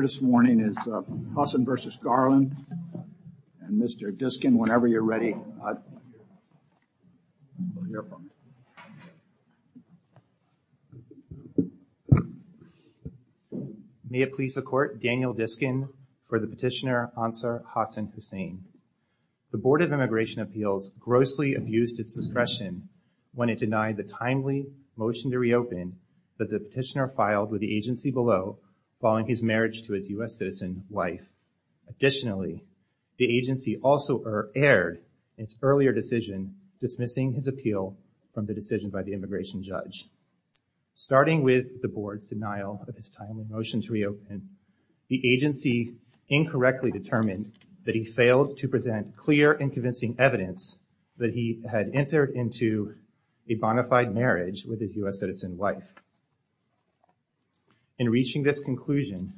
May it please the Court, Daniel Diskin for the Petitioner, Ansar Hussan Hussain. The Board of Immigration Appeals grossly abused its discretion when it denied the timely motion to reopen that the petitioner filed with the agency below following his marriage to his U.S. citizen wife. Additionally, the agency also erred in its earlier decision dismissing his appeal from the decision by the immigration judge. Starting with the Board's denial of his timely motion to reopen, the agency incorrectly determined that he failed to present clear and convincing evidence that he had entered into a bona fide marriage with his U.S. citizen wife. In reaching this conclusion,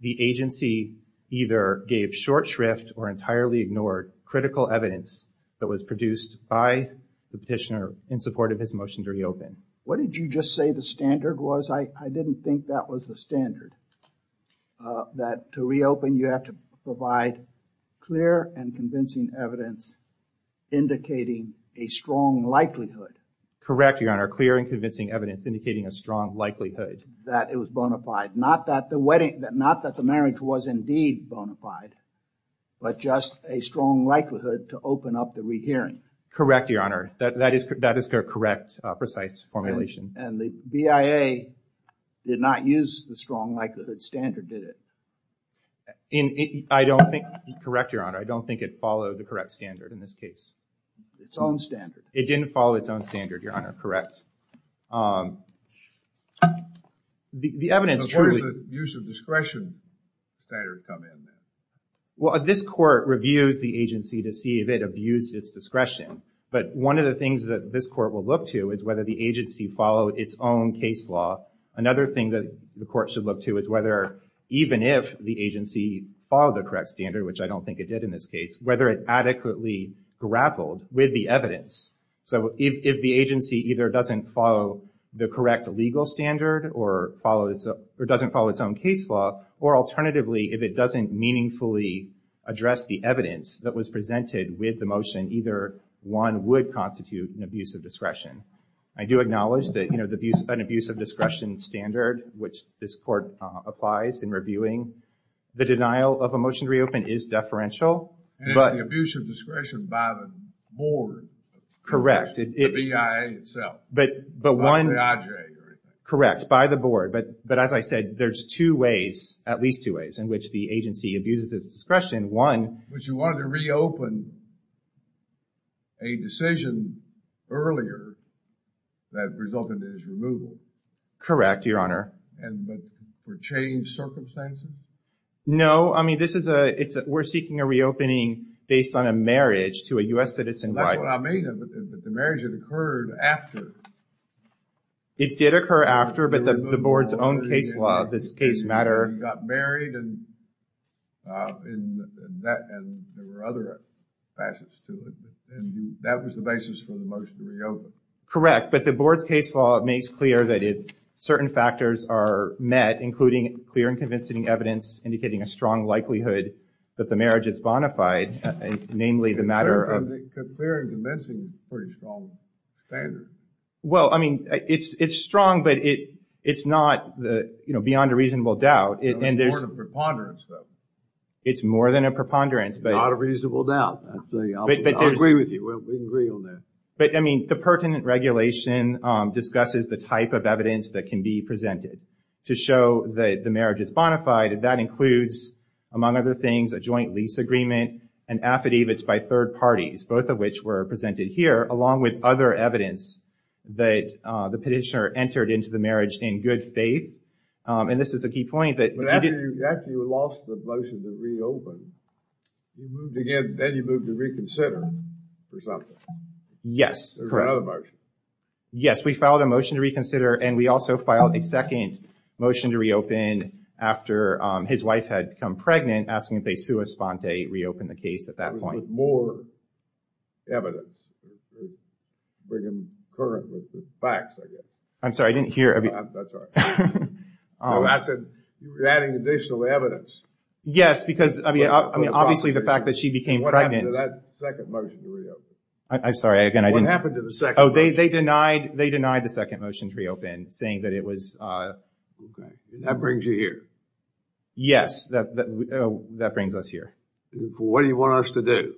the agency either gave short shrift or entirely ignored critical evidence that was produced by the petitioner in support of his motion to reopen. What did you just say the standard was? I didn't think that was the standard that to reopen, you have to provide clear and convincing evidence indicating a strong likelihood. Correct, Your Honor, clear and convincing evidence indicating a strong likelihood. That it was bona fide, not that the wedding, not that the marriage was indeed bona fide, but just a strong likelihood to open up the rehearing. Correct, Your Honor, that is correct, precise formulation. And the BIA did not use the strong likelihood standard, did it? I don't think, correct, Your Honor, I don't think it followed the correct standard in this case. Its own standard. It didn't follow its own standard, Your Honor, correct. The evidence truly, use of discretion. Well, this court reviews the agency to see if it abused its discretion, but one of the things that this court will look to is whether the agency followed its own case law. Another thing that the court should look to is whether, even if the agency followed the correct standard, which I don't think it did in this case, whether it adequately grappled with the evidence. So if the agency either doesn't follow the correct legal standard or doesn't follow its own case law, or alternatively if it doesn't meaningfully address the evidence that was presented with the motion, either one would constitute an abuse of discretion. I do acknowledge that, you know, an abuse of discretion standard, which this court applies in reviewing, the denial of a motion to reopen is deferential. And it's the abuse of discretion by the board. Correct. The BIA itself. Correct, by the board. But as I said, there's two ways, at least two ways, in which the agency abuses its discretion. One. But you wanted to reopen a decision earlier that resulted in its removal. Correct, Your Honor. And but for changed circumstances? No, I mean, this is a, it's, we're seeking a reopening based on a marriage to a U.S. citizen. That's what I mean, but the marriage had occurred after. It did and that and there were other facets to it. And that was the basis for the motion to reopen. Correct. But the board's case law makes clear that if certain factors are met, including clear and convincing evidence indicating a strong likelihood that the marriage is bona fide, namely the matter of. Clear and convincing is a pretty strong standard. Well, I mean, it's, it's strong, but it, it's not the, you It's more than a preponderance, but. Not a reasonable doubt. I agree with you. We can agree on that. But I mean, the pertinent regulation discusses the type of evidence that can be presented to show that the marriage is bona fide. And that includes, among other things, a joint lease agreement and affidavits by third parties, both of which were presented here, along with other evidence that the petitioner entered into the marriage in good faith. And this is the key point that. But after you lost the motion to reopen, you moved again, then you moved to reconsider for something. Yes, correct. There was another motion. Yes, we filed a motion to reconsider and we also filed a second motion to reopen after his wife had become pregnant, asking if they sua sponte reopened the case at that point. With more evidence, bringing current facts, I guess. I'm sorry, I didn't hear. That's all right. I said you were adding additional evidence. Yes, because I mean, obviously, the fact that she became pregnant. What happened to that second motion to reopen? I'm sorry, again, I didn't. What happened to the second motion? Oh, they denied, they denied the second motion to reopen, saying that it was. OK, that brings you here. Yes, that brings us here. What do you want us to do?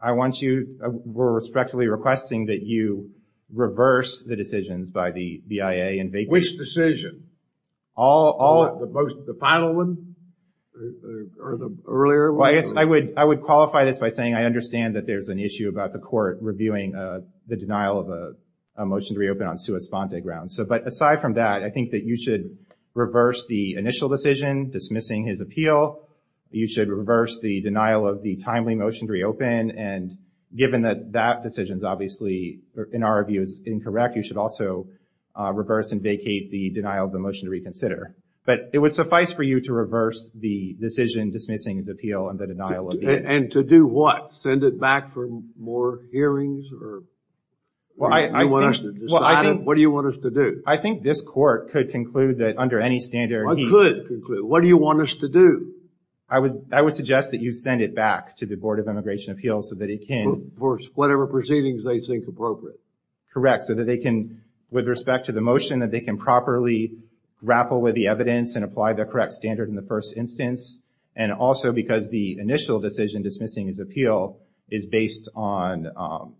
I want you, we're respectfully requesting that you reverse the decisions by the BIA. Which decision? The final one or the earlier one? Well, I guess I would I would qualify this by saying I understand that there's an issue about the court reviewing the denial of a motion to reopen on sua sponte grounds. So but aside from that, I think that you should reverse the initial decision dismissing his appeal. You should reverse the denial of the timely motion to reopen. And given that that decision is obviously, in our view, is incorrect, you should also reverse and vacate the denial of the motion to reconsider. But it would suffice for you to reverse the decision dismissing his appeal and the denial. And to do what? Send it back for more hearings? Well, I want us to decide. What do you want us to do? I think this court could conclude that under any standard. What do you want us to do? I would I would suggest that you send it back to the Board of Immigration Appeals so that it can. For whatever proceedings they think appropriate. Correct. So that they can, with respect to the motion, that they can properly grapple with the evidence and apply the correct standard in the first instance. And also because the initial decision dismissing his appeal is based on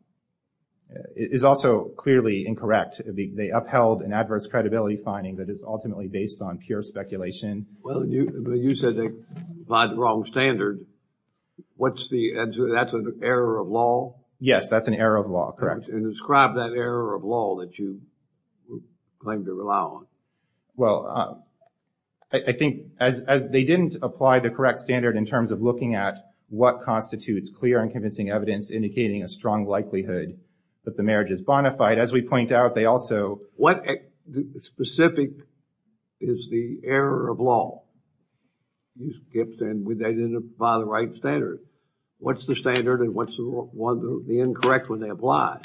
is also clearly incorrect. They upheld an adverse credibility finding that is ultimately based on pure speculation. Well, you said they applied the wrong standard. What's the answer? That's an error of law. Yes, that's an error of law. Correct. And describe that error of law that you claim to rely on. Well, I think as they didn't apply the correct standard in terms of looking at what constitutes clear and convincing evidence indicating a strong likelihood that the marriage is bona fide, as we point out, they also. What specific is the error of law? He skips and they didn't apply the right standard. What's the standard and what's the incorrect when they apply?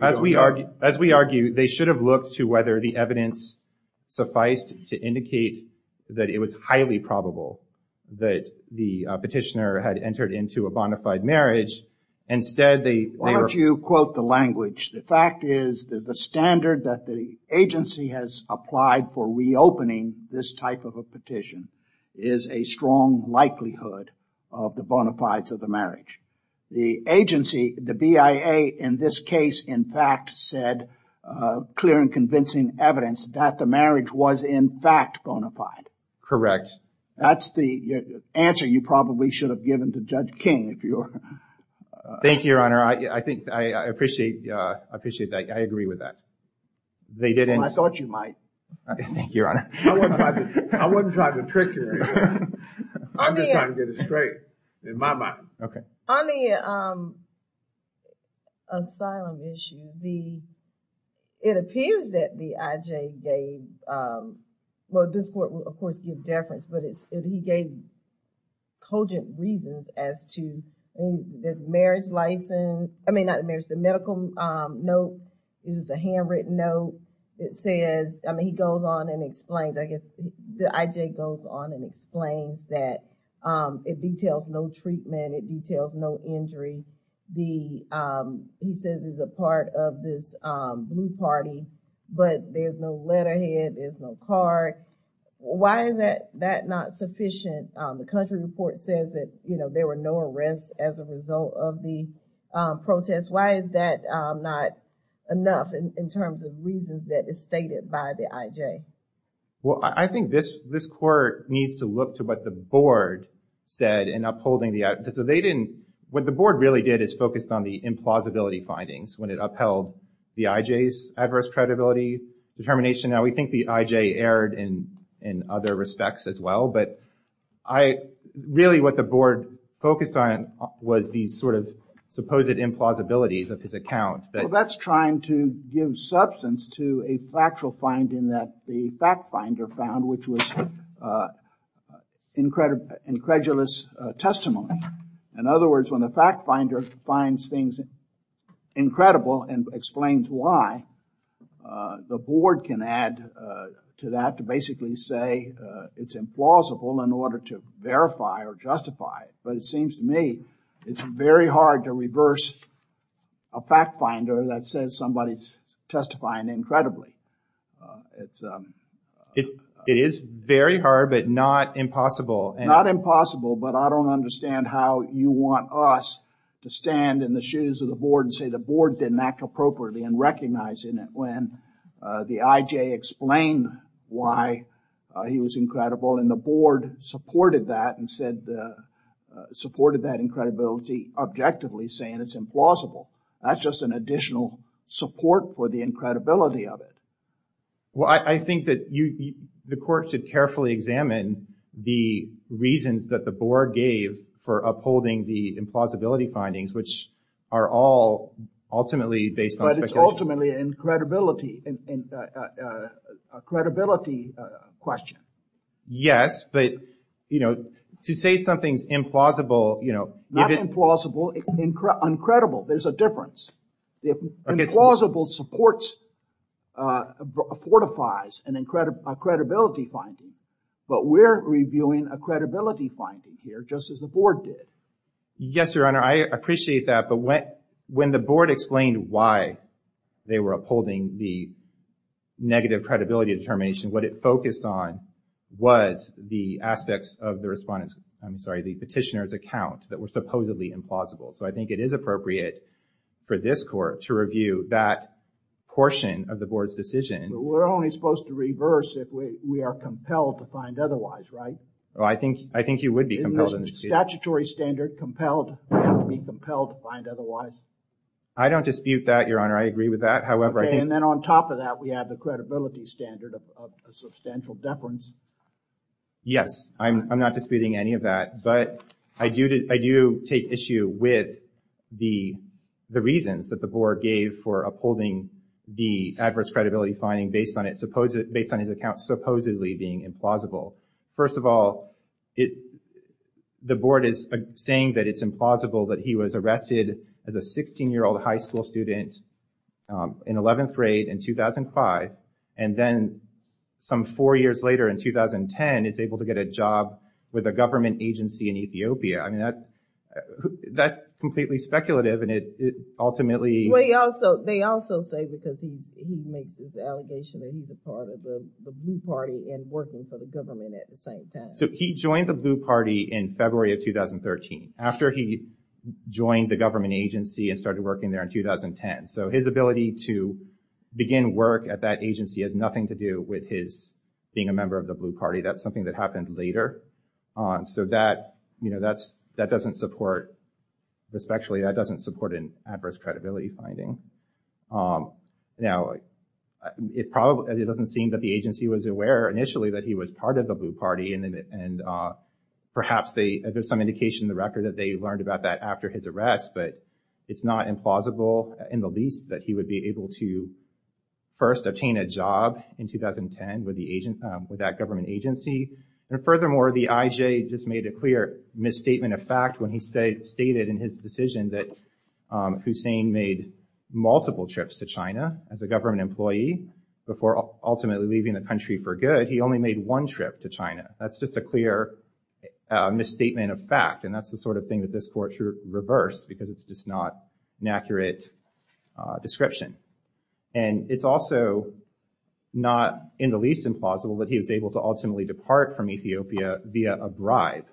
As we argue, as we argue, they should have looked to whether the evidence sufficed to indicate that it was highly probable that the petitioner had entered into a bona fide marriage. Instead, they. Why don't you quote the language? The fact is that the standard that the agency has applied for reopening this type of a petition is a strong likelihood of the bona fides of the marriage. The agency, the BIA, in this case, in fact, said clear and convincing evidence that the marriage was, in fact, bona fide. Correct. That's the answer you probably should have given to Judge King. Thank you, Your Honor. I think I appreciate, I appreciate that. I agree with that. They didn't. I thought you might. Thank you, Your Honor. I wasn't trying to trick you. I'm just trying to get it straight in my mind. OK. On the asylum issue, it appears that the IJ gave, well, this court will, of course, give deference, but he gave cogent reasons as to the marriage license. I mean, there's the medical note. This is a handwritten note. It says, I mean, he goes on and explains, I guess, the IJ goes on and explains that it details no treatment. It details no injury. He says it's a part of this blue party, but there's no letterhead. There's no card. Why is that not sufficient? The country report says that, you know, there were no arrests as a result of the protest. Why is that not enough in terms of reasons that is stated by the IJ? Well, I think this this court needs to look to what the board said in upholding the, so they didn't, what the board really did is focused on the implausibility findings when it upheld the IJ's adverse credibility determination. Now, we think the IJ erred in other respects as well, but I really what the board focused on was the sort of supposed implausibilities of his account. That's trying to give substance to a factual finding that the fact finder found, which was incredible, incredulous testimony. In other words, when the fact finder finds things incredible and explains why, the board can add to that to basically say it's implausible in order to verify or justify it. But it seems to me it's very hard to reverse a fact finder that says somebody's testifying incredibly. It's it is very hard, but not impossible and not impossible. But I don't understand how you want us to stand in the shoes of the board and say the board didn't act appropriately and recognizing it when the IJ explained why he was incredible. And the board supported that and said, supported that incredibility objectively saying it's implausible. That's just an additional support for the incredibility of it. Well, I think that you, the court should carefully examine the reasons that the board gave for upholding the implausibility findings, which are all ultimately based on speculation. But it's ultimately a credibility question. Yes, but, you know, to say something's implausible, you know, not implausible, incredible. There's a difference. The implausible supports fortifies an incredible credibility finding. But we're reviewing a credibility finding here just as the board did. Yes, Your Honor, I appreciate that. But when the board explained why they were upholding the negative credibility determination, what it focused on was the aspects of the respondent's, I'm sorry, the petitioner's account that were supposedly implausible. So I think it is appropriate for this court to review that portion of the board's decision. We're only supposed to reverse if we are compelled to find otherwise. Right. Well, I think I think you would be compelled. Statutory standard compelled to be compelled to find otherwise. I don't dispute that, Your Honor. I agree with that. However, and then on top of that, we have the credibility standard of substantial deference. Yes, I'm not disputing any of that, but I do I do take issue with the the reasons that the board gave for upholding the adverse credibility finding based on it, based on his account supposedly being implausible. First of all, the board is saying that it's implausible that he was arrested as a 16-year-old high school student in 11th grade in 2005, and then some four years later in 2010, is able to get a job with a government agency in Ethiopia. I mean, that that's completely speculative. Ultimately, they also say because he makes this allegation that he's a part of the Blue Party and working for the government at the same time. So he joined the Blue Party in February of 2013 after he joined the government agency and started working there in 2010. So his ability to begin work at that agency has nothing to do with his being a member of the Blue Party. That's something that happened later on. That doesn't support, respectfully, that doesn't support an adverse credibility finding. Now, it doesn't seem that the agency was aware initially that he was part of the Blue Party, and perhaps there's some indication in the record that they learned about that after his arrest. But it's not implausible in the least that he would be able to first obtain a job in 2010 with that government agency. And furthermore, the IJ just made a clear misstatement of fact when he stated in his decision that Hussein made multiple trips to China as a government employee before ultimately leaving the country for good. He only made one trip to China. That's just a clear misstatement of fact. And that's the sort of thing that this court reversed because it's just not an accurate description. And it's also not in the least implausible that he was able to ultimately depart from Ethiopia via a bribe.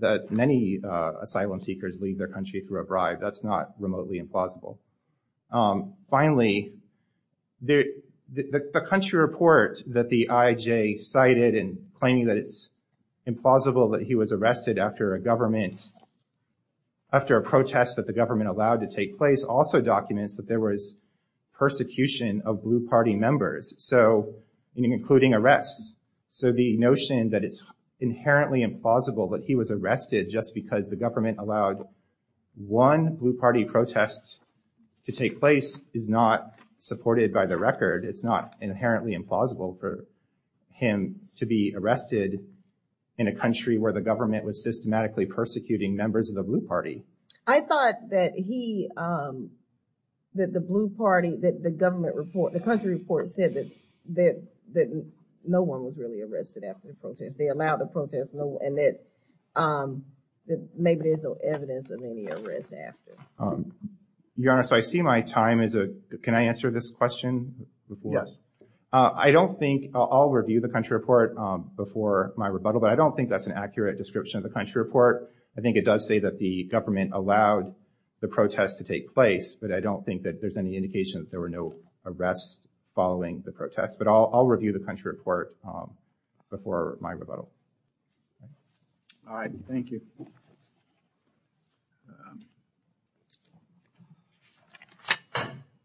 That many asylum seekers leave their country through a bribe. That's not remotely implausible. Finally, the country report that the IJ cited in claiming that it's implausible that he was arrested after a government, after a protest that the government allowed to take place also documents that there was persecution of Blue Party members. So, including arrests. So the notion that it's inherently implausible that he was arrested just because the government allowed one Blue Party protest to take place is not supported by the record. It's not inherently implausible for him to be arrested in a country where the government was systematically persecuting members of the Blue Party. I thought that he, that the Blue Party, that the government report, the country report said that no one was really arrested after the protest. They allowed the protest and that maybe there's no evidence of any arrests after. Your Honor, so I see my time as a, can I answer this question before? I don't think, I'll review the country report before my rebuttal. But I don't think that's an accurate description of the country report. I think it does say that the government allowed the protest to take place. But I don't think that there's any indication that there were no arrests following the protest. But I'll review the country report before my rebuttal. All right, thank you.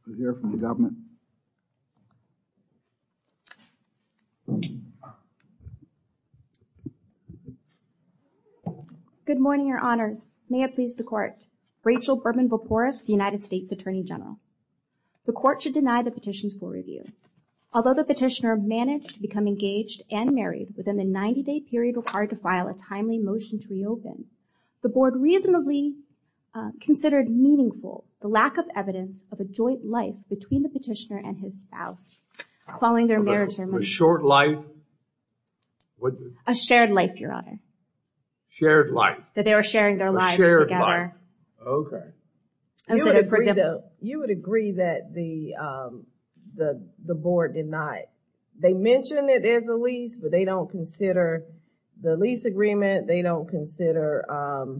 We'll hear from the government. Good morning, Your Honors. May it please the Court. Rachel Berman-Voporis, the United States Attorney General. The Court should deny the petition's full review. Although the petitioner managed to become engaged and married within the 90-day period required to file a timely motion to reopen, the Board reasonably considered meaningful the lack of evidence of a joint life between the petitioner and his spouse, calling their marriage a short life. A shared life, Your Honor. Shared life. That they were sharing their lives together. You would agree that the Board did not, they mentioned that there's a lease, but they don't consider the lease agreement. They don't consider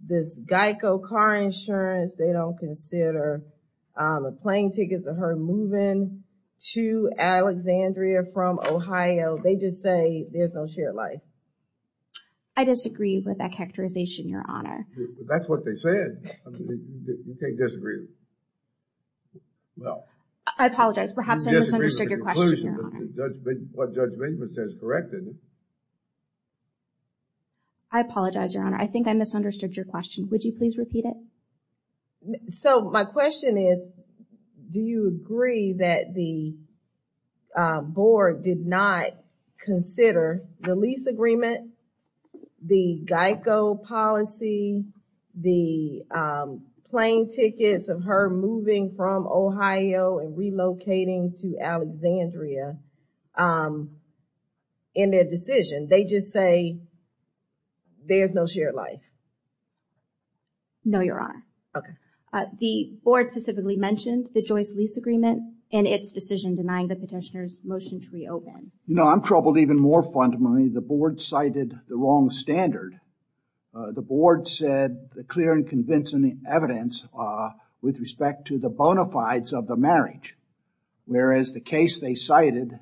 this GEICO car insurance. They don't consider plane tickets of her moving to Alexandria from Ohio. They just say there's no shared life. I disagree with that characterization, Your Honor. That's what they said. You can't disagree. Well. I apologize. Perhaps I misunderstood your question, Your Honor. What Judge Benjamin says is correct, isn't it? I apologize, Your Honor. I think I misunderstood your question. Would you please repeat it? So, my question is, do you agree that the Board did not consider the lease agreement, the GEICO policy, the plane tickets of her moving from Ohio and relocating to Alexandria um, in their decision? They just say there's no shared life. No, Your Honor. Okay. The Board specifically mentioned the Joyce lease agreement and its decision denying the petitioner's motion to reopen. You know, I'm troubled even more fundamentally. The Board cited the wrong standard. The Board said the clear and convincing evidence with respect to the bona fides of the marriage. Whereas the case they cited,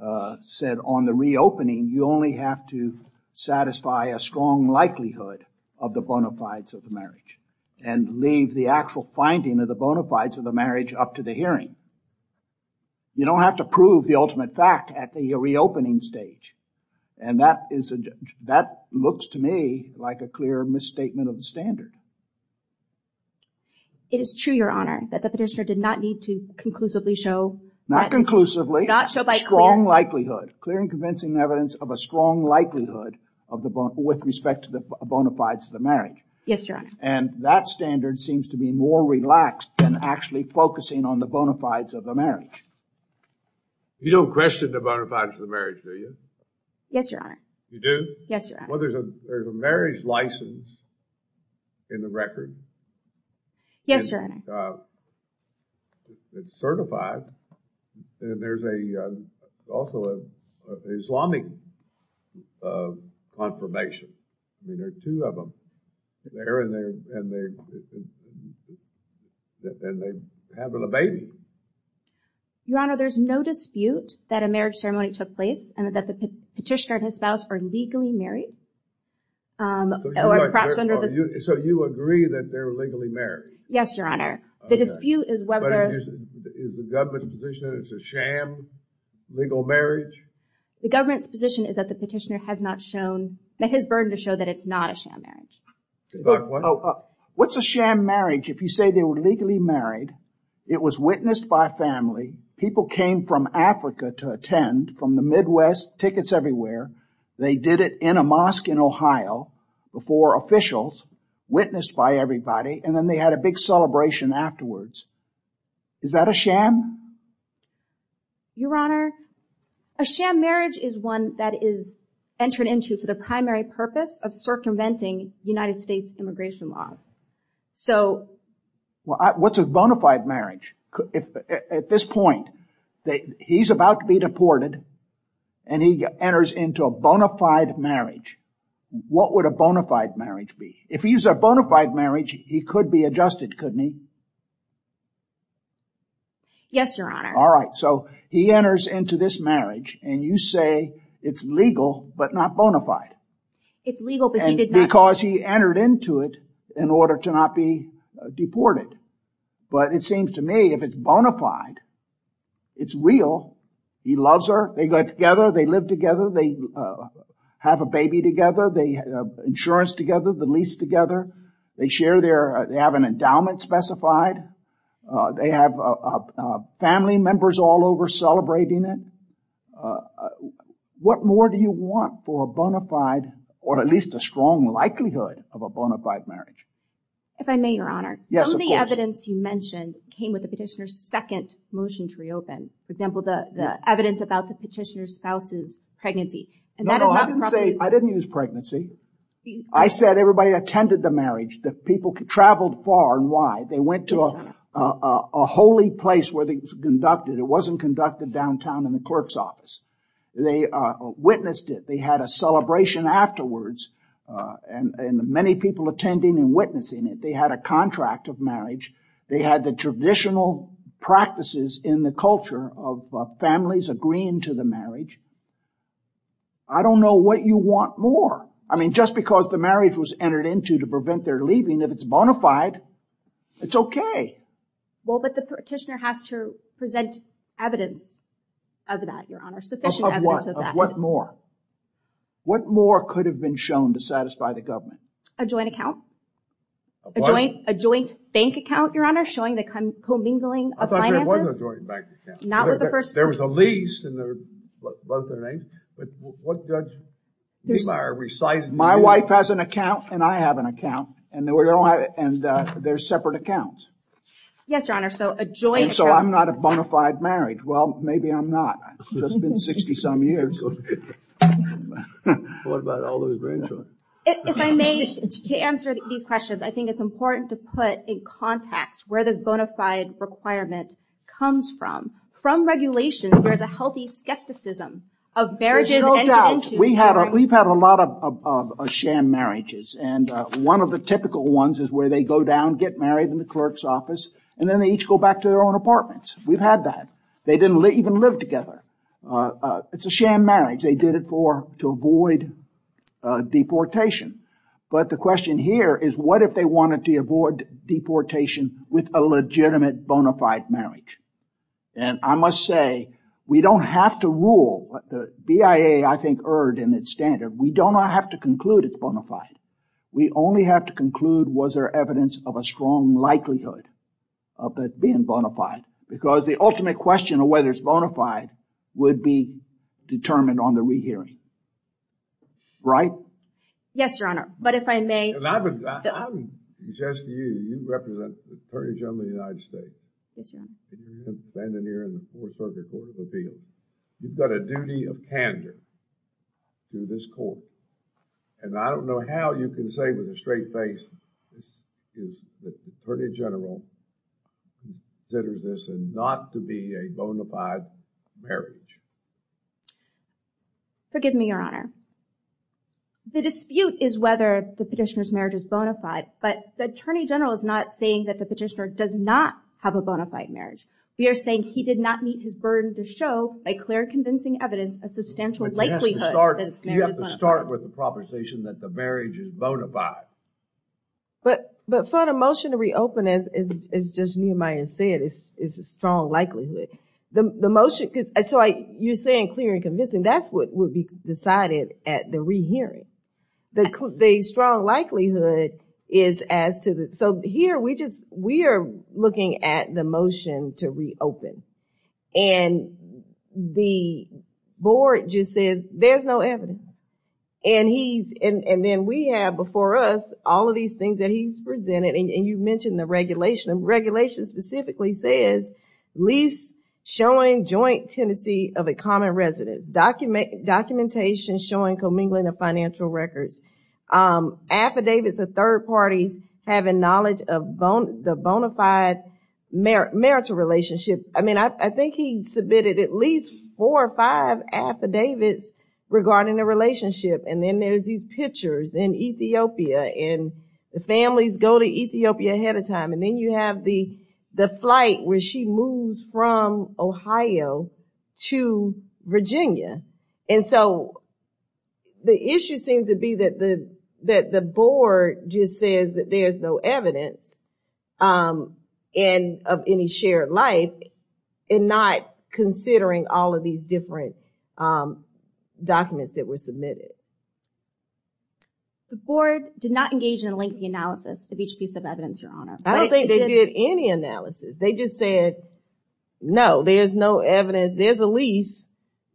uh, said on the reopening, you only have to satisfy a strong likelihood of the bona fides of the marriage and leave the actual finding of the bona fides of the marriage up to the hearing. You don't have to prove the ultimate fact at the reopening stage. And that is, that looks to me like a clear misstatement of the standard. It is true, Your Honor, that the petitioner did not need to conclusively show... Not conclusively. Not show by clear. Strong likelihood. Clear and convincing evidence of a strong likelihood with respect to the bona fides of the marriage. Yes, Your Honor. And that standard seems to be more relaxed than actually focusing on the bona fides of the marriage. You don't question the bona fides of the marriage, do you? Yes, Your Honor. You do? Yes, Your Honor. There's a marriage license in the record. Yes, Your Honor. It's certified. And there's also an Islamic confirmation. I mean, there are two of them. They're in there and they're having a baby. Your Honor, there's no dispute that a marriage ceremony took place and that the petitioner and his spouse are legally married. So you agree that they're legally married? Yes, Your Honor. The dispute is whether... But is the government's position that it's a sham legal marriage? The government's position is that the petitioner has not shown... That his burden to show that it's not a sham marriage. What's a sham marriage if you say they were legally married, it was witnessed by family, people came from Africa to attend from the Midwest, tickets everywhere, they did it in a mosque in Ohio before officials, witnessed by everybody, and then they had a big celebration afterwards. Is that a sham? Your Honor, a sham marriage is one that is entered into for the primary purpose of circumventing United States immigration laws. So... Well, what's a bona fide marriage? At this point, he's about to be deported and he enters into a bona fide marriage. What would a bona fide marriage be? If he's a bona fide marriage, he could be adjusted, couldn't he? Yes, Your Honor. All right, so he enters into this marriage and you say it's legal, but not bona fide. It's legal, but he did not... Because he entered into it in order to not be deported. But it seems to me if it's bona fide, it's real. He loves her. They got together. They live together. They have a baby together. They have insurance together, the lease together. They share their... They have an endowment specified. They have family members all over celebrating it. What more do you want for a bona fide, or at least a strong likelihood of a bona fide marriage? If I may, Your Honor, some of the evidence you mentioned came with the petitioner's second motion to reopen. For example, the evidence about the petitioner's spouse's pregnancy. I didn't use pregnancy. I said everybody attended the marriage. The people traveled far and wide. They went to a holy place where they conducted. It wasn't conducted downtown in the clerk's office. They witnessed it. They had a celebration afterwards. And many people attending and witnessing it. They had a contract of marriage. They had the traditional practices in the culture of families agreeing to the marriage. I don't know what you want more. I mean, just because the marriage was entered into to prevent their leaving, if it's bona fide, it's okay. Well, but the petitioner has to present evidence of that, Your Honor. Sufficient evidence of that. What more? What more could have been shown to satisfy the government? A joint account. A joint bank account, Your Honor. Showing the commingling of finances. I thought there was a joint bank account. Not with the person. There was a lease and both their names. But what Judge Niemeyer recited. My wife has an account and I have an account. And there's separate accounts. Yes, Your Honor. So a joint. And so I'm not a bona fide married. Well, maybe I'm not. It's been 60 some years. What about all those grandchildren? If I may, to answer these questions, I think it's important to put in context where this bona fide requirement comes from. From regulation, there's a healthy skepticism of marriages entered into. We've had a lot of sham marriages. And one of the typical ones is where they go down, get married in the clerk's office, and then they each go back to their own apartments. We've had that. They didn't even live together. It's a sham marriage. They did it for to avoid deportation. But the question here is what if they wanted to avoid deportation with a legitimate bona fide marriage? And I must say, we don't have to rule. The BIA, I think, erred in its standard. We don't have to conclude it's bona fide. We only have to conclude was there evidence of a strong likelihood of it being bona fide. Because the ultimate question of whether it's bona fide would be determined on the re-hearing. Right? Yes, Your Honor. But if I may. And I would suggest to you, you represent the Attorney General of the United States. Yes, Your Honor. And you're standing here in the Fourth Circuit Court of Appeals. You've got a duty of candor to this court. And I don't know how you can say with a straight face that the Attorney General considers this not to be a bona fide marriage. Forgive me, Your Honor. The dispute is whether the petitioner's marriage is bona fide. But the Attorney General is not saying that the petitioner does not have a bona fide marriage. We are saying he did not meet his burden to show, by clear convincing evidence, a substantial likelihood that it's bona fide. You have to start with the proposition that the marriage is bona fide. But for the motion to reopen, as Judge Nehemiah said, is a strong likelihood. The motion, so you're saying clear and convincing. That's what would be decided at the rehearing. The strong likelihood is as to the... So here, we are looking at the motion to reopen. And the board just said, there's no evidence. And then we have before us all of these things that he's presented. And you mentioned the regulation. Regulation specifically says, lease showing joint tendency of a common residence. Documentation showing commingling of financial records. Affidavits of third parties having knowledge of the bona fide marital relationship. I mean, I think he submitted at least four or five affidavits regarding the relationship. And then there's these pictures in Ethiopia. And the families go to Ethiopia ahead of time. Then you have the flight where she moves from Ohio to Virginia. And so, the issue seems to be that the board just says that there's no evidence of any shared life. And not considering all of these different documents that were submitted. The board did not engage in a lengthy analysis of each piece of evidence, Your Honor. I don't think they did any analysis. They just said, no, there's no evidence. There's a lease,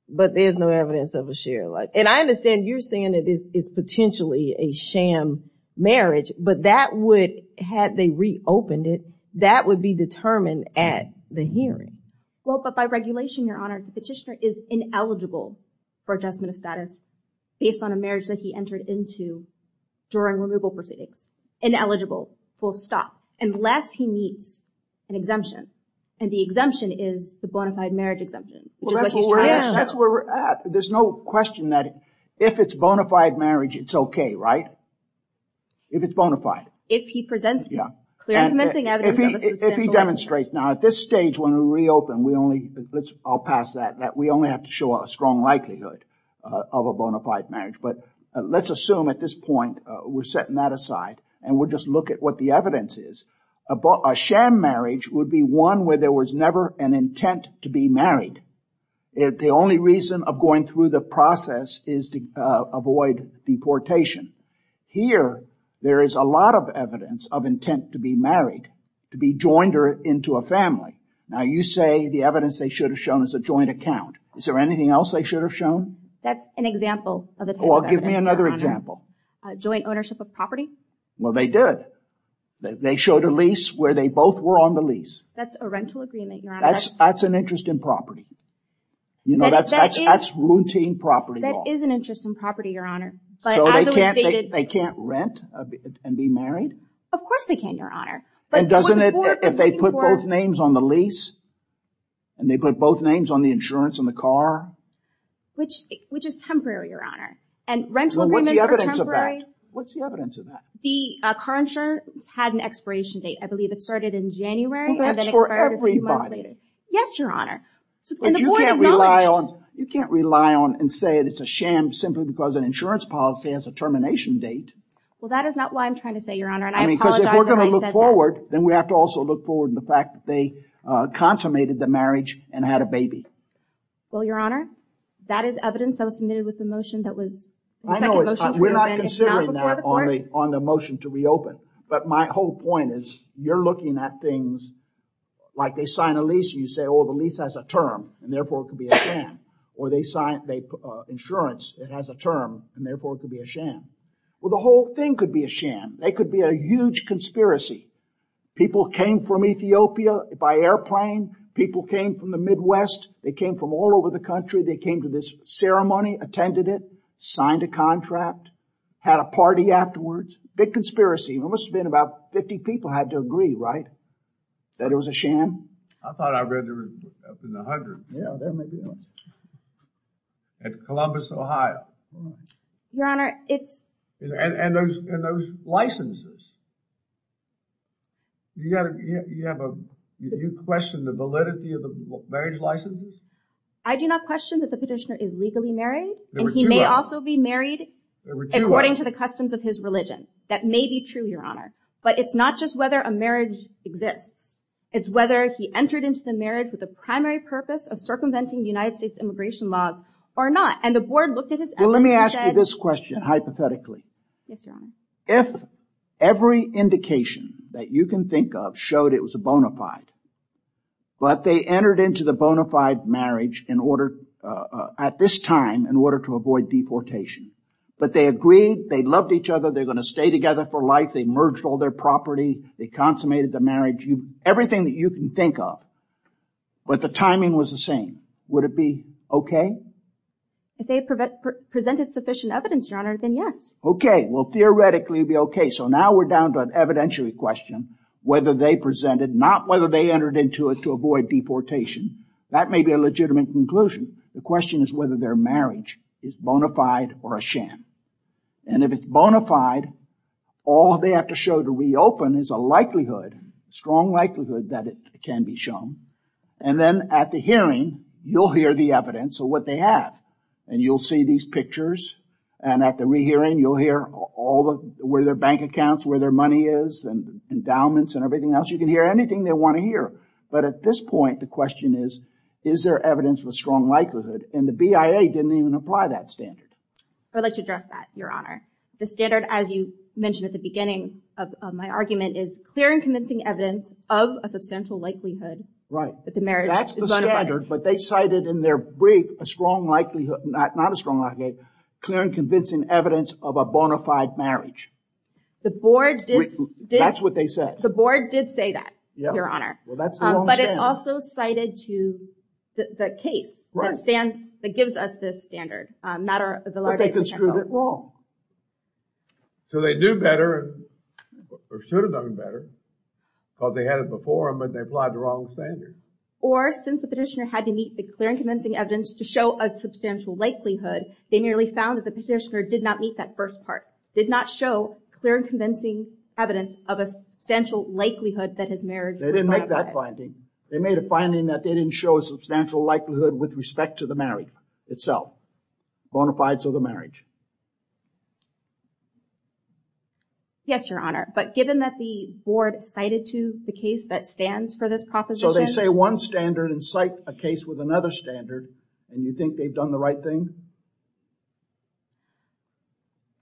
but there's no evidence of a shared life. And I understand you're saying that this is potentially a sham marriage. But that would, had they reopened it, that would be determined at the hearing. Well, but by regulation, Your Honor, the petitioner is ineligible for adjustment of status based on a marriage that he entered into during removal proceedings. Ineligible. Full stop. Unless he meets an exemption. And the exemption is the bona fide marriage exemption. Well, that's where we're at. There's no question that if it's bona fide marriage, it's okay, right? If it's bona fide. If he presents clear and convincing evidence of a successful marriage. If he demonstrates. Now, at this stage, when we reopen, I'll pass that. We only have to show a strong likelihood of a bona fide marriage. But let's assume at this point, we're setting that aside. And we'll just look at what the evidence is. A sham marriage would be one where there was never an intent to be married. The only reason of going through the process is to avoid deportation. Here, there is a lot of evidence of intent to be married, to be joined into a family. Now, you say the evidence they should have shown is a joint account. Is there anything else they should have shown? That's an example of the type of evidence, Your Honor. Well, give me another example. Joint ownership of property. Well, they did. They showed a lease where they both were on the lease. That's a rental agreement, Your Honor. That's an interest in property. You know, that's routine property law. That is an interest in property, Your Honor. So they can't rent and be married? Of course they can, Your Honor. And doesn't it, if they put both names on the lease, and they put both names on the insurance and the car? Which is temporary, Your Honor. And rental agreements are temporary. What's the evidence of that? What's the evidence of that? The car insurance had an expiration date. I believe it started in January and then expired a few months later. Yes, Your Honor. But you can't rely on, you can't rely on and say that it's a sham simply because an insurance policy has a termination date. Well, that is not why I'm trying to say, Your Honor. I mean, because if we're going to look forward, then we have to also look forward to the fact that they consummated the marriage and had a baby. Well, Your Honor, that is evidence that was submitted with the motion that was... I know, we're not considering that on the motion to reopen. But my whole point is you're looking at things like they sign a lease, you say, oh, the lease has a term and therefore it could be a sham. Or they sign insurance, it has a term and therefore it could be a sham. Well, the whole thing could be a sham. They could be a huge conspiracy. People came from Ethiopia by airplane. People came from the Midwest. They came from all over the country. They came to this ceremony, attended it, signed a contract, had a party afterwards. Big conspiracy. There must have been about 50 people had to agree, right? That it was a sham? I thought I read there was up in the hundreds. Yeah, there may be a lot. At Columbus, Ohio. Your Honor, it's... And those licenses, you question the validity of the marriage licenses? I do not question that the petitioner is legally married. And he may also be married according to the customs of his religion. That may be true, Your Honor. But it's not just whether a marriage exists. It's whether he entered into the marriage with the primary purpose of circumventing the United States immigration laws or not. And the board looked at his evidence and said... Well, let me ask you this question hypothetically. Yes, Your Honor. If every indication that you can think of showed it was a bona fide, but they entered into the bona fide marriage in order... At this time, in order to avoid deportation. But they agreed, they loved each other. They're going to stay together for life. They merged all their property. They consummated the marriage. Everything that you can think of. But the timing was the same. Would it be okay? If they presented sufficient evidence, Your Honor, then yes. Okay. Well, theoretically, it'd be okay. So now we're down to an evidentiary question. Whether they presented, not whether they entered into it to avoid deportation. That may be a legitimate conclusion. The question is whether their marriage is bona fide or a sham. And if it's bona fide, all they have to show to reopen is a likelihood, strong likelihood that it can be shown. And then at the hearing, you'll hear the evidence of what they have. And you'll see these pictures. And at the re-hearing, you'll hear all of where their bank accounts, where their money is and endowments and everything else. You can hear anything they want to hear. But at this point, the question is, is there evidence of a strong likelihood? And the BIA didn't even apply that standard. I'd like to address that, Your Honor. The standard, as you mentioned at the beginning of my argument, is clear and convincing evidence of a substantial likelihood. Right. That the marriage is bona fide. That's the standard. But they cited in their brief a strong likelihood, not a strong likelihood, clear and convincing evidence of a bona fide marriage. The board did... That's what they said. The board did say that, Your Honor. But it also cited to the case that gives us this standard. But they construed it wrong. So they do better or should have done better because they had it before them, but they applied the wrong standard. Or since the petitioner had to meet the clear and convincing evidence to show a substantial likelihood, they nearly found that the petitioner did not meet that first part, did not show clear and convincing evidence of a substantial likelihood that his marriage was bona fide. They didn't make that finding. They made a finding that they didn't show a substantial likelihood with respect to the marriage itself, bona fides of the marriage. Yes, Your Honor. But given that the board cited to the case that stands for this proposition... So they say one standard and cite a case with another standard and you think they've done the right thing?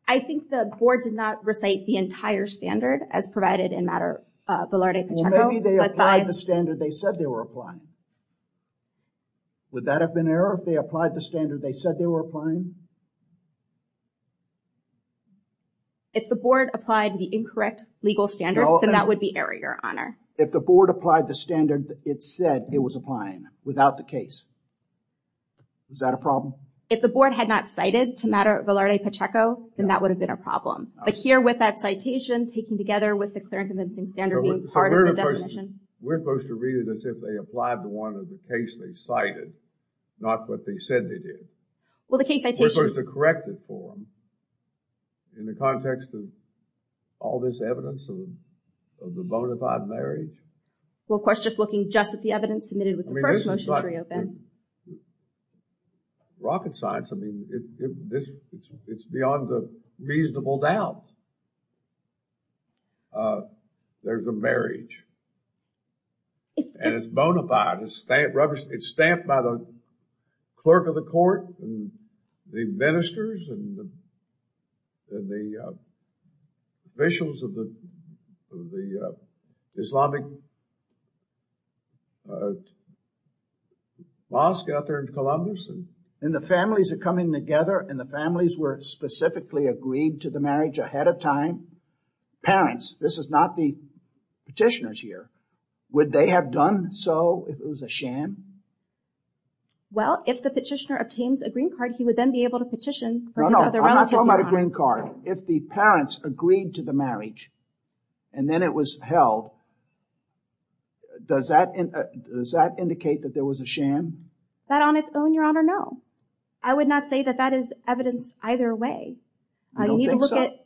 I think the board did not recite the entire standard as provided in Mater Valerde Pacheco. Maybe they applied the standard they said they were applying. Would that have been error if they applied the standard they said they were applying? If the board applied the incorrect legal standard, then that would be error, Your Honor. If the board applied the standard it said it was applying without the case, is that a problem? If the board had not cited to Mater Valerde Pacheco, then that would have been a problem. But here with that citation, taking together with the clear and convincing standard being part of the definition... We're supposed to read it as if they applied to one of the case they cited, not what they said they did. Well, the case citation... We're supposed to correct it for them in the context of all this evidence of the bona fide marriage? Well, of course, just looking just at the evidence submitted with the first motion to reopen. I mean, rocket science, I mean, it's beyond a reasonable doubt. There's a marriage. And it's bona fide, it's stamped by the clerk of the court and the ministers and the officials of the Islamic mosque out there in Columbus. And the families are coming together and the families were specifically agreed to the marriage ahead of time. Parents, this is not the petitioners here. Would they have done so if it was a sham? Well, if the petitioner obtains a green card, he would then be able to petition... No, no, I'm not talking about a green card. If the parents agreed to the marriage and then it was held, does that indicate that there was a sham? That on its own, Your Honor, no. I would not say that that is evidence either way. I need to look at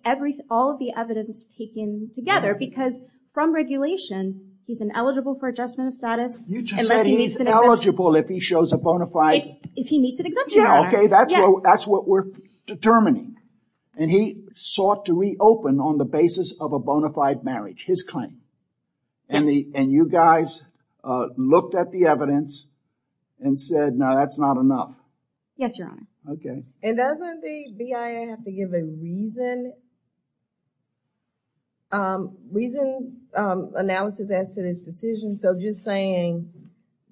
all of the evidence taken together because from regulation, he's ineligible for adjustment of status. You just said he's eligible if he shows a bona fide... If he meets an exemption, Your Honor. Okay, that's what we're determining. And he sought to reopen on the basis of a bona fide marriage, his claim. And you guys looked at the evidence and said, no, that's not enough. Yes, Your Honor. And doesn't the BIA have to give a reason? Reason analysis as to this decision. So just saying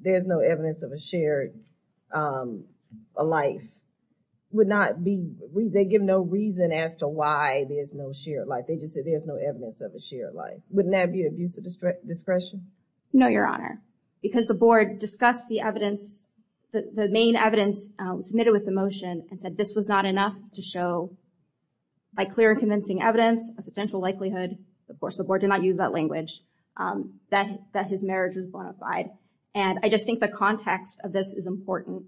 there's no evidence of a shared life would not be... They give no reason as to why there's no shared life. They just said there's no evidence of a shared life. Wouldn't that be abuse of discretion? No, Your Honor. Because the board discussed the evidence, the main evidence submitted with the motion and said this was not enough to show, by clear and convincing evidence, a substantial likelihood, of course, the board did not use that language, that his marriage was bona fide. And I just think the context of this is important.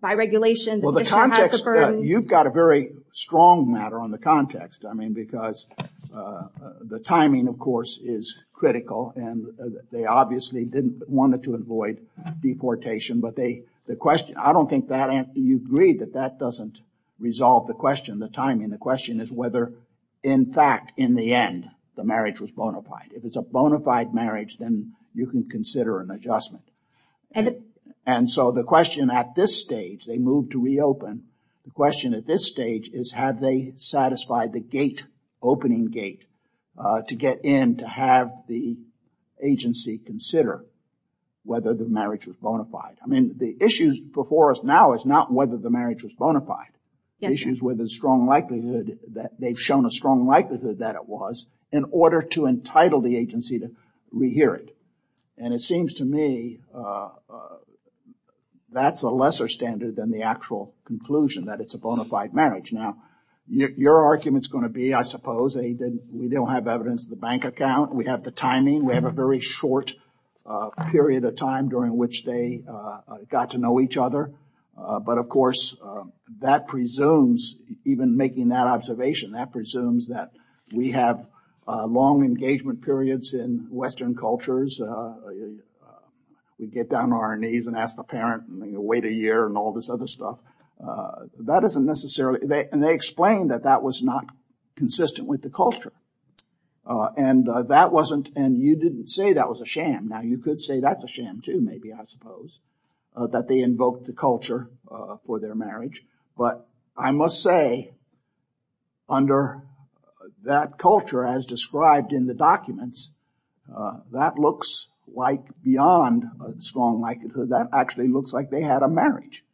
By regulation... Well, the context... You've got a very strong matter on the context. I mean, because the timing, of course, is critical and they obviously didn't want it to avoid deportation, but the question... I don't think you agree that that doesn't resolve the question, the timing. The question is whether, in fact, in the end, the marriage was bona fide. If it's a bona fide marriage, then you can consider an adjustment. And so the question at this stage, they moved to reopen. The question at this stage is have they satisfied the gate, opening gate, to get in, to have the agency consider whether the marriage was bona fide. I mean, the issues before us now is not whether the marriage was bona fide. The issue is whether the strong likelihood, that they've shown a strong likelihood that it was in order to entitle the agency to rehear it. And it seems to me that's a lesser standard than the actual conclusion that it's a bona fide marriage. Now, your argument's going to be, I suppose, we don't have evidence of the bank account. We have the timing. We have a very short period of time during which they got to know each other. But of course, that presumes, even making that observation, that presumes that we have long engagement periods in Western cultures. We get down on our knees and ask the parent, and then you wait a year and all this other stuff. That isn't necessarily... And they explained that that was not consistent with the culture. And that wasn't... And you didn't say that was a sham. Now, you could say that's a sham too, maybe, I suppose, that they invoked the culture for their marriage. But I must say, under that culture as described in the documents, that looks like beyond a strong likelihood, that actually looks like they had a marriage.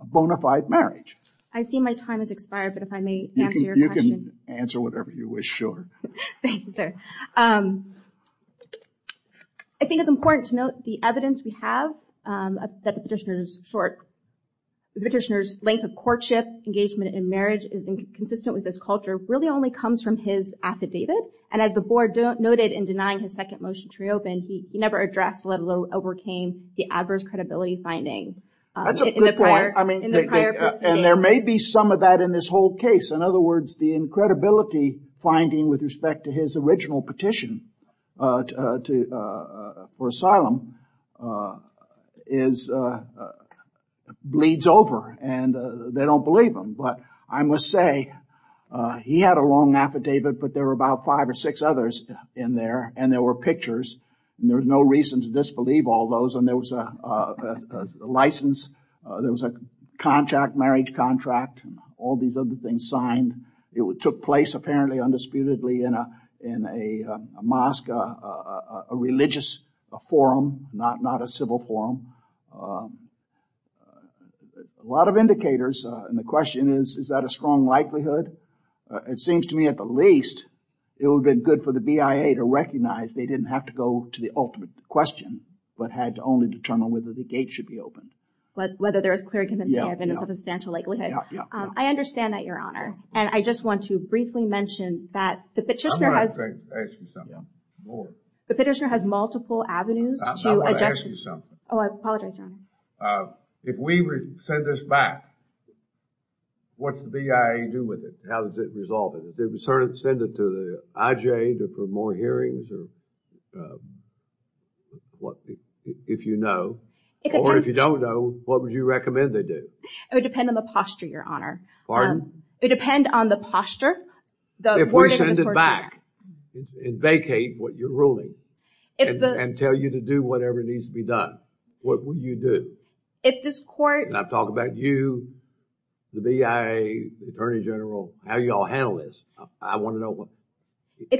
A bona fide marriage. I see my time has expired, but if I may answer your question. You can answer whatever you wish, sure. Thank you, sir. I think it's important to note the evidence we have, that the petitioner is short. The petitioner's length of courtship, engagement in marriage is inconsistent with this culture, really only comes from his affidavit. And as the board noted in denying his second motion to reopen, he never addressed, let alone overcame, the adverse credibility finding. That's a good point. I mean, and there may be some of that in this whole case. In other words, the incredibility finding with respect to his original petition for asylum is... bleeds over and they don't believe him. But I must say, he had a long affidavit, but there were about five or six others in there and there were pictures. And there was no reason to disbelieve all those. And there was a license, there was a contract, marriage contract, and all these other things signed. It took place apparently undisputedly in a mosque, a religious forum, not a civil forum. A lot of indicators. And the question is, is that a strong likelihood? It seems to me at the least, it would have been good for the BIA to recognize they didn't have to go to the ultimate question, but had to only determine whether the gate should be opened. But whether there is clear and convincing evidence of a substantial likelihood. I understand that, Your Honor. And I just want to briefly mention that the petitioner has... The petitioner has multiple avenues to adjust... I want to ask you something. Oh, I apologize, Your Honor. If we send this back, what's the BIA do with it? How does it resolve it? If we send it to the IJA for more hearings or... If you know, or if you don't know, what would you recommend they do? It would depend on the posture, Your Honor. It would depend on the posture. If we send it back and vacate what you're ruling, and tell you to do whatever needs to be done, what would you do? If this court... I'm talking about you, the BIA, the Attorney General, how you all handle this. I want to know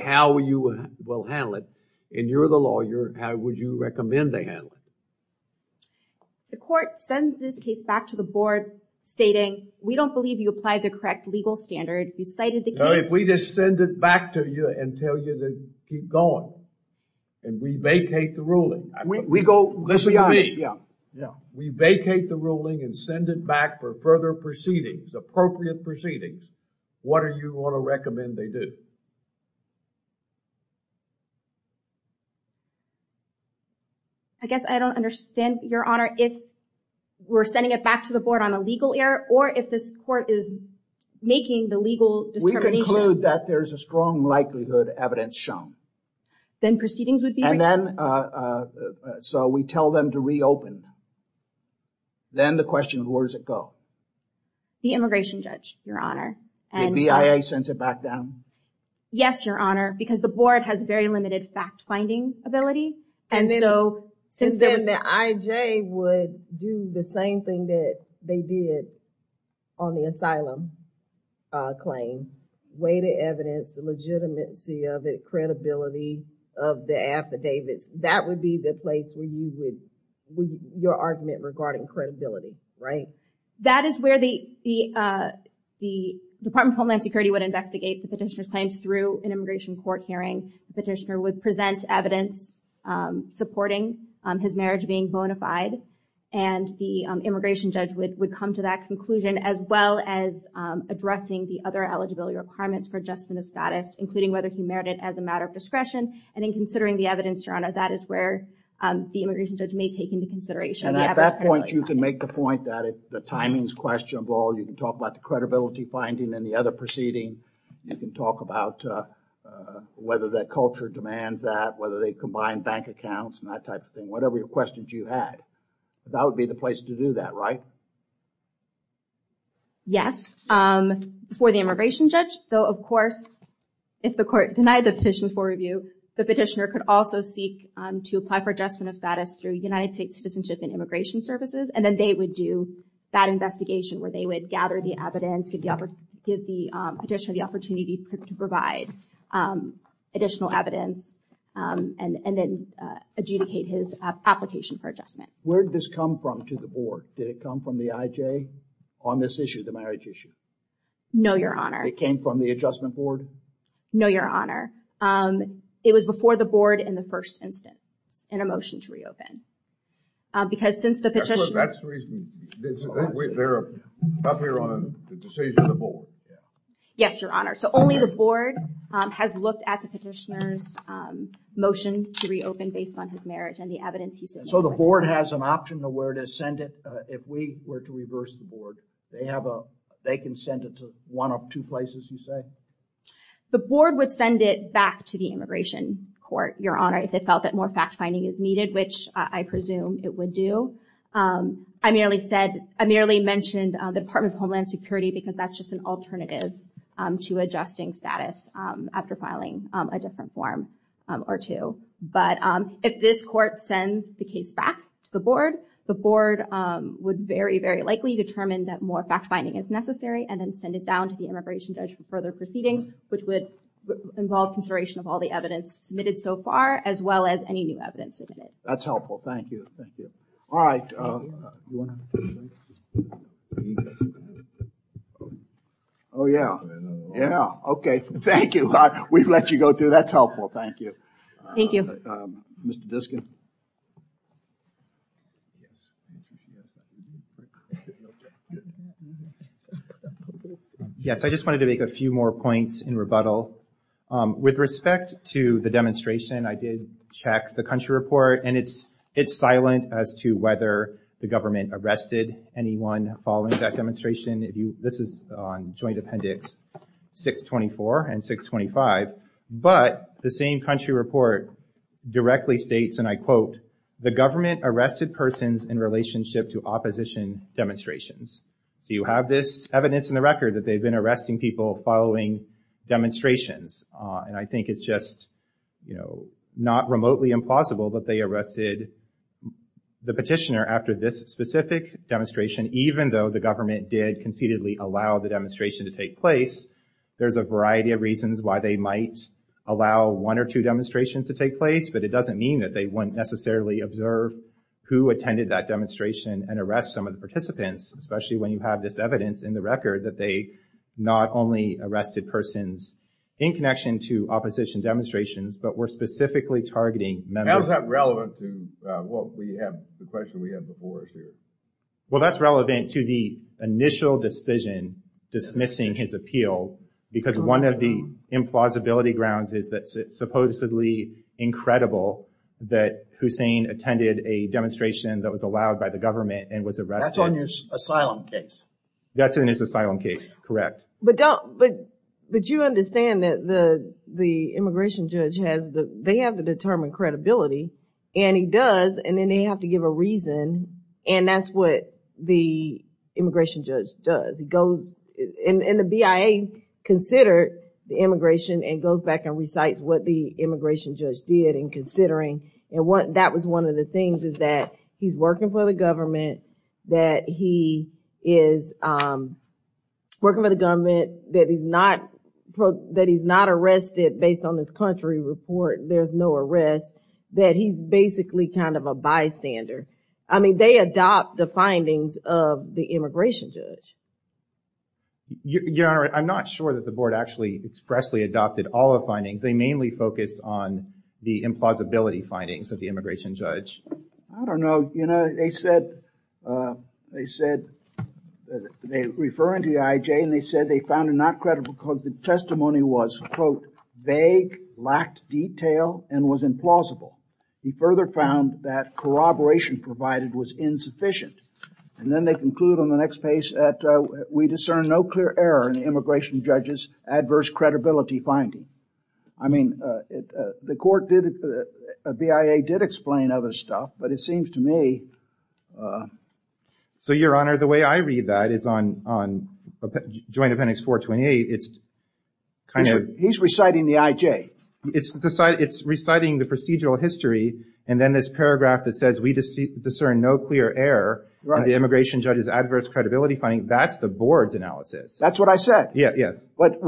how you will handle it. And you're the lawyer. How would you recommend they handle it? The court sends this case back to the board stating, we don't believe you applied the correct legal standard. You cited the case... If we just send it back to you and tell you to keep going, and we vacate the ruling... Listen to me. We vacate the ruling and send it back for further proceedings, appropriate proceedings, what are you going to recommend they do? I guess I don't understand, Your Honor, if we're sending it back to the board on a legal error, or if this court is making the legal determination... We conclude that there's a strong likelihood evidence shown. Then proceedings would be... And then, so we tell them to reopen. Then the question is, where does it go? The immigration judge, Your Honor. The BIA sends it back down? Yes, Your Honor, because the board has very limited fact findings. And then the IJ would do the same thing that they did on the asylum claim. Weigh the evidence, the legitimacy of it, credibility of the affidavits. That would be the place where you would... Your argument regarding credibility, right? That is where the Department of Homeland Security would investigate the petitioner's claims through an immigration court hearing. The petitioner would present evidence supporting his marriage being bona fide. And the immigration judge would come to that conclusion, as well as addressing the other eligibility requirements for adjustment of status, including whether he merited as a matter of discretion. And in considering the evidence, Your Honor, that is where the immigration judge may take into consideration. And at that point, you can make the point that if the timing's questionable, you can talk about the credibility finding and the other proceeding. You can talk about whether that culture demands that, whether they combine bank accounts and that type of thing. Whatever your questions you had, that would be the place to do that, right? Yes, for the immigration judge, though, of course, if the court denied the petition for review, the petitioner could also seek to apply for adjustment of status through United States Citizenship and Immigration Services. And then they would do that investigation where they would gather the evidence, give the petitioner the opportunity to provide additional evidence, and then adjudicate his application for adjustment. Where did this come from to the board? Did it come from the IJ on this issue, the marriage issue? No, Your Honor. It came from the adjustment board? No, Your Honor. It was before the board in the first instance in a motion to reopen. Because since the petitioner... That's the reason, they're up here on the decision of the board. Yes, Your Honor. So only the board has looked at the petitioner's motion to reopen based on his marriage and the evidence he said... So the board has an option of where to send it. If we were to reverse the board, they can send it to one of two places, you say? The board would send it back to the immigration court, Your Honor, if they felt that more fact-finding is needed, which I presume it would do. I merely mentioned the Department of Homeland Security because that's just an alternative to adjusting status after filing a different form or two. But if this court sends the case back to the board, the board would very, very likely determine that more fact-finding is necessary and then send it down to the immigration judge for further proceedings, which would involve consideration of all the evidence submitted so far, as well as any new evidence submitted. That's helpful. Thank you. Thank you. All right. Oh, yeah. Yeah. Okay. Thank you. We've let you go through. That's helpful. Thank you. Thank you. Mr. Diskin. Yes, I just wanted to make a few more points in rebuttal. With respect to the demonstration, I did check the country report and it's silent as to whether the government arrested anyone following that demonstration. This is on Joint Appendix 624 and 625, but the same country report directly states, and I quote, the government arrested persons in relationship to opposition demonstrations. So you have this evidence in the record that they've been arresting people following demonstrations. And I think it's just, you know, remotely impossible that they arrested the petitioner after this specific demonstration, even though the government did concededly allow the demonstration to take place. There's a variety of reasons why they might allow one or two demonstrations to take place, but it doesn't mean that they wouldn't necessarily observe who attended that demonstration and arrest some of the participants, especially when you have this evidence in the record that they not only arrested persons in connection to opposition demonstrations, but were specifically targeting members. How is that relevant to what we have, the question we have before us here? Well, that's relevant to the initial decision dismissing his appeal because one of the implausibility grounds is that it's supposedly incredible that Hussein attended a demonstration that was allowed by the government and was arrested. That's on his asylum case. That's in his asylum case, correct. But don't, but you understand that the immigration judge has the, they have to determine credibility and he does. And then they have to give a reason. And that's what the immigration judge does. He goes and the BIA considered the immigration and goes back and recites what the immigration judge did in considering. And that was one of the things is that he's working for the government, that he is working for the government, that he's not, that he's not arrested based on this country report. There's no arrest, that he's basically kind of a bystander. I mean, they adopt the findings of the immigration judge. Your Honor, I'm not sure that the board actually expressly adopted all the findings. They mainly focused on the implausibility findings of the immigration judge. I don't know. You know, they said, they said, they referring to the IJ and they said they found it not credible because the testimony was, quote, vague, lacked detail and was implausible. He further found that corroboration provided was insufficient. And then they conclude on the next page that we discern no clear error in the immigration judge's adverse credibility finding. I mean, the court did, the BIA did explain other stuff, but it seems to me. So, Your Honor, the way I read that is on Joint Appendix 428. It's kind of. He's reciting the IJ. It's reciting the procedural history. And then this paragraph that says we discern no clear error in the immigration judge's adverse credibility finding. That's the board's analysis. That's what I said. Yeah, yes. But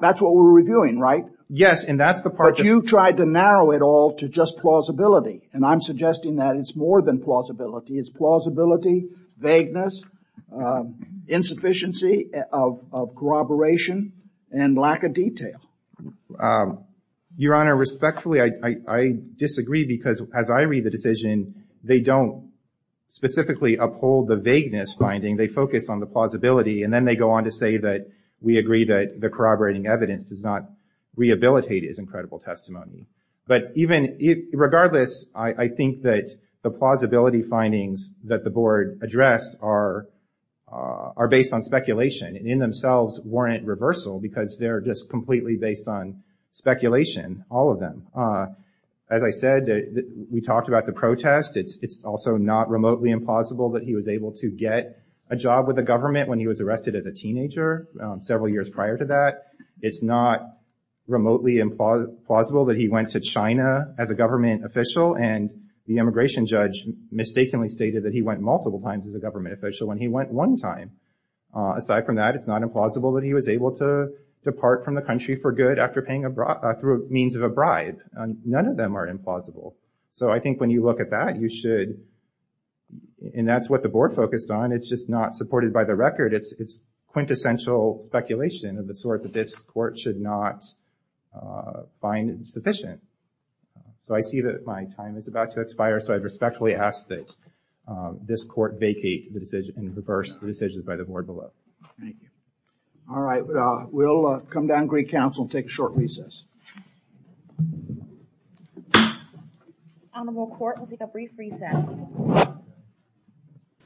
that's what we're reviewing, right? Yes, and that's the part. But you tried to narrow it all to just plausibility. And I'm suggesting that it's more than plausibility. It's plausibility, vagueness, insufficiency of corroboration and lack of detail. Your Honor, respectfully, I disagree because as I read the decision, they don't specifically uphold the vagueness finding. They focus on the plausibility. And then they go on to say that we agree that the corroborating evidence does not rehabilitate his incredible testimony. But even regardless, I think that the plausibility findings that the board addressed are based on speculation and in themselves warrant reversal because they're just completely based on speculation, all of them. As I said, we talked about the protest. It's also not remotely implausible that he was able to get a job with the government when he was arrested as a teenager several years prior to that. It's not remotely implausible that he went to China as a government official. And the immigration judge mistakenly stated that he went multiple times as a government official when he went one time. Aside from that, it's not implausible that he was able to depart from the country for good after paying through means of a bribe. None of them are implausible. So I think when you look at that, you should. And that's what the board focused on. It's just not supported by the record. It's quintessential speculation of the sort that this court should not find sufficient. So I see that my time is about to expire. So I respectfully ask that this court vacate the decision and reverse the decision by the board below. Thank you. All right. We'll come down and greet counsel and take a short recess. Honorable court, we'll take a brief recess.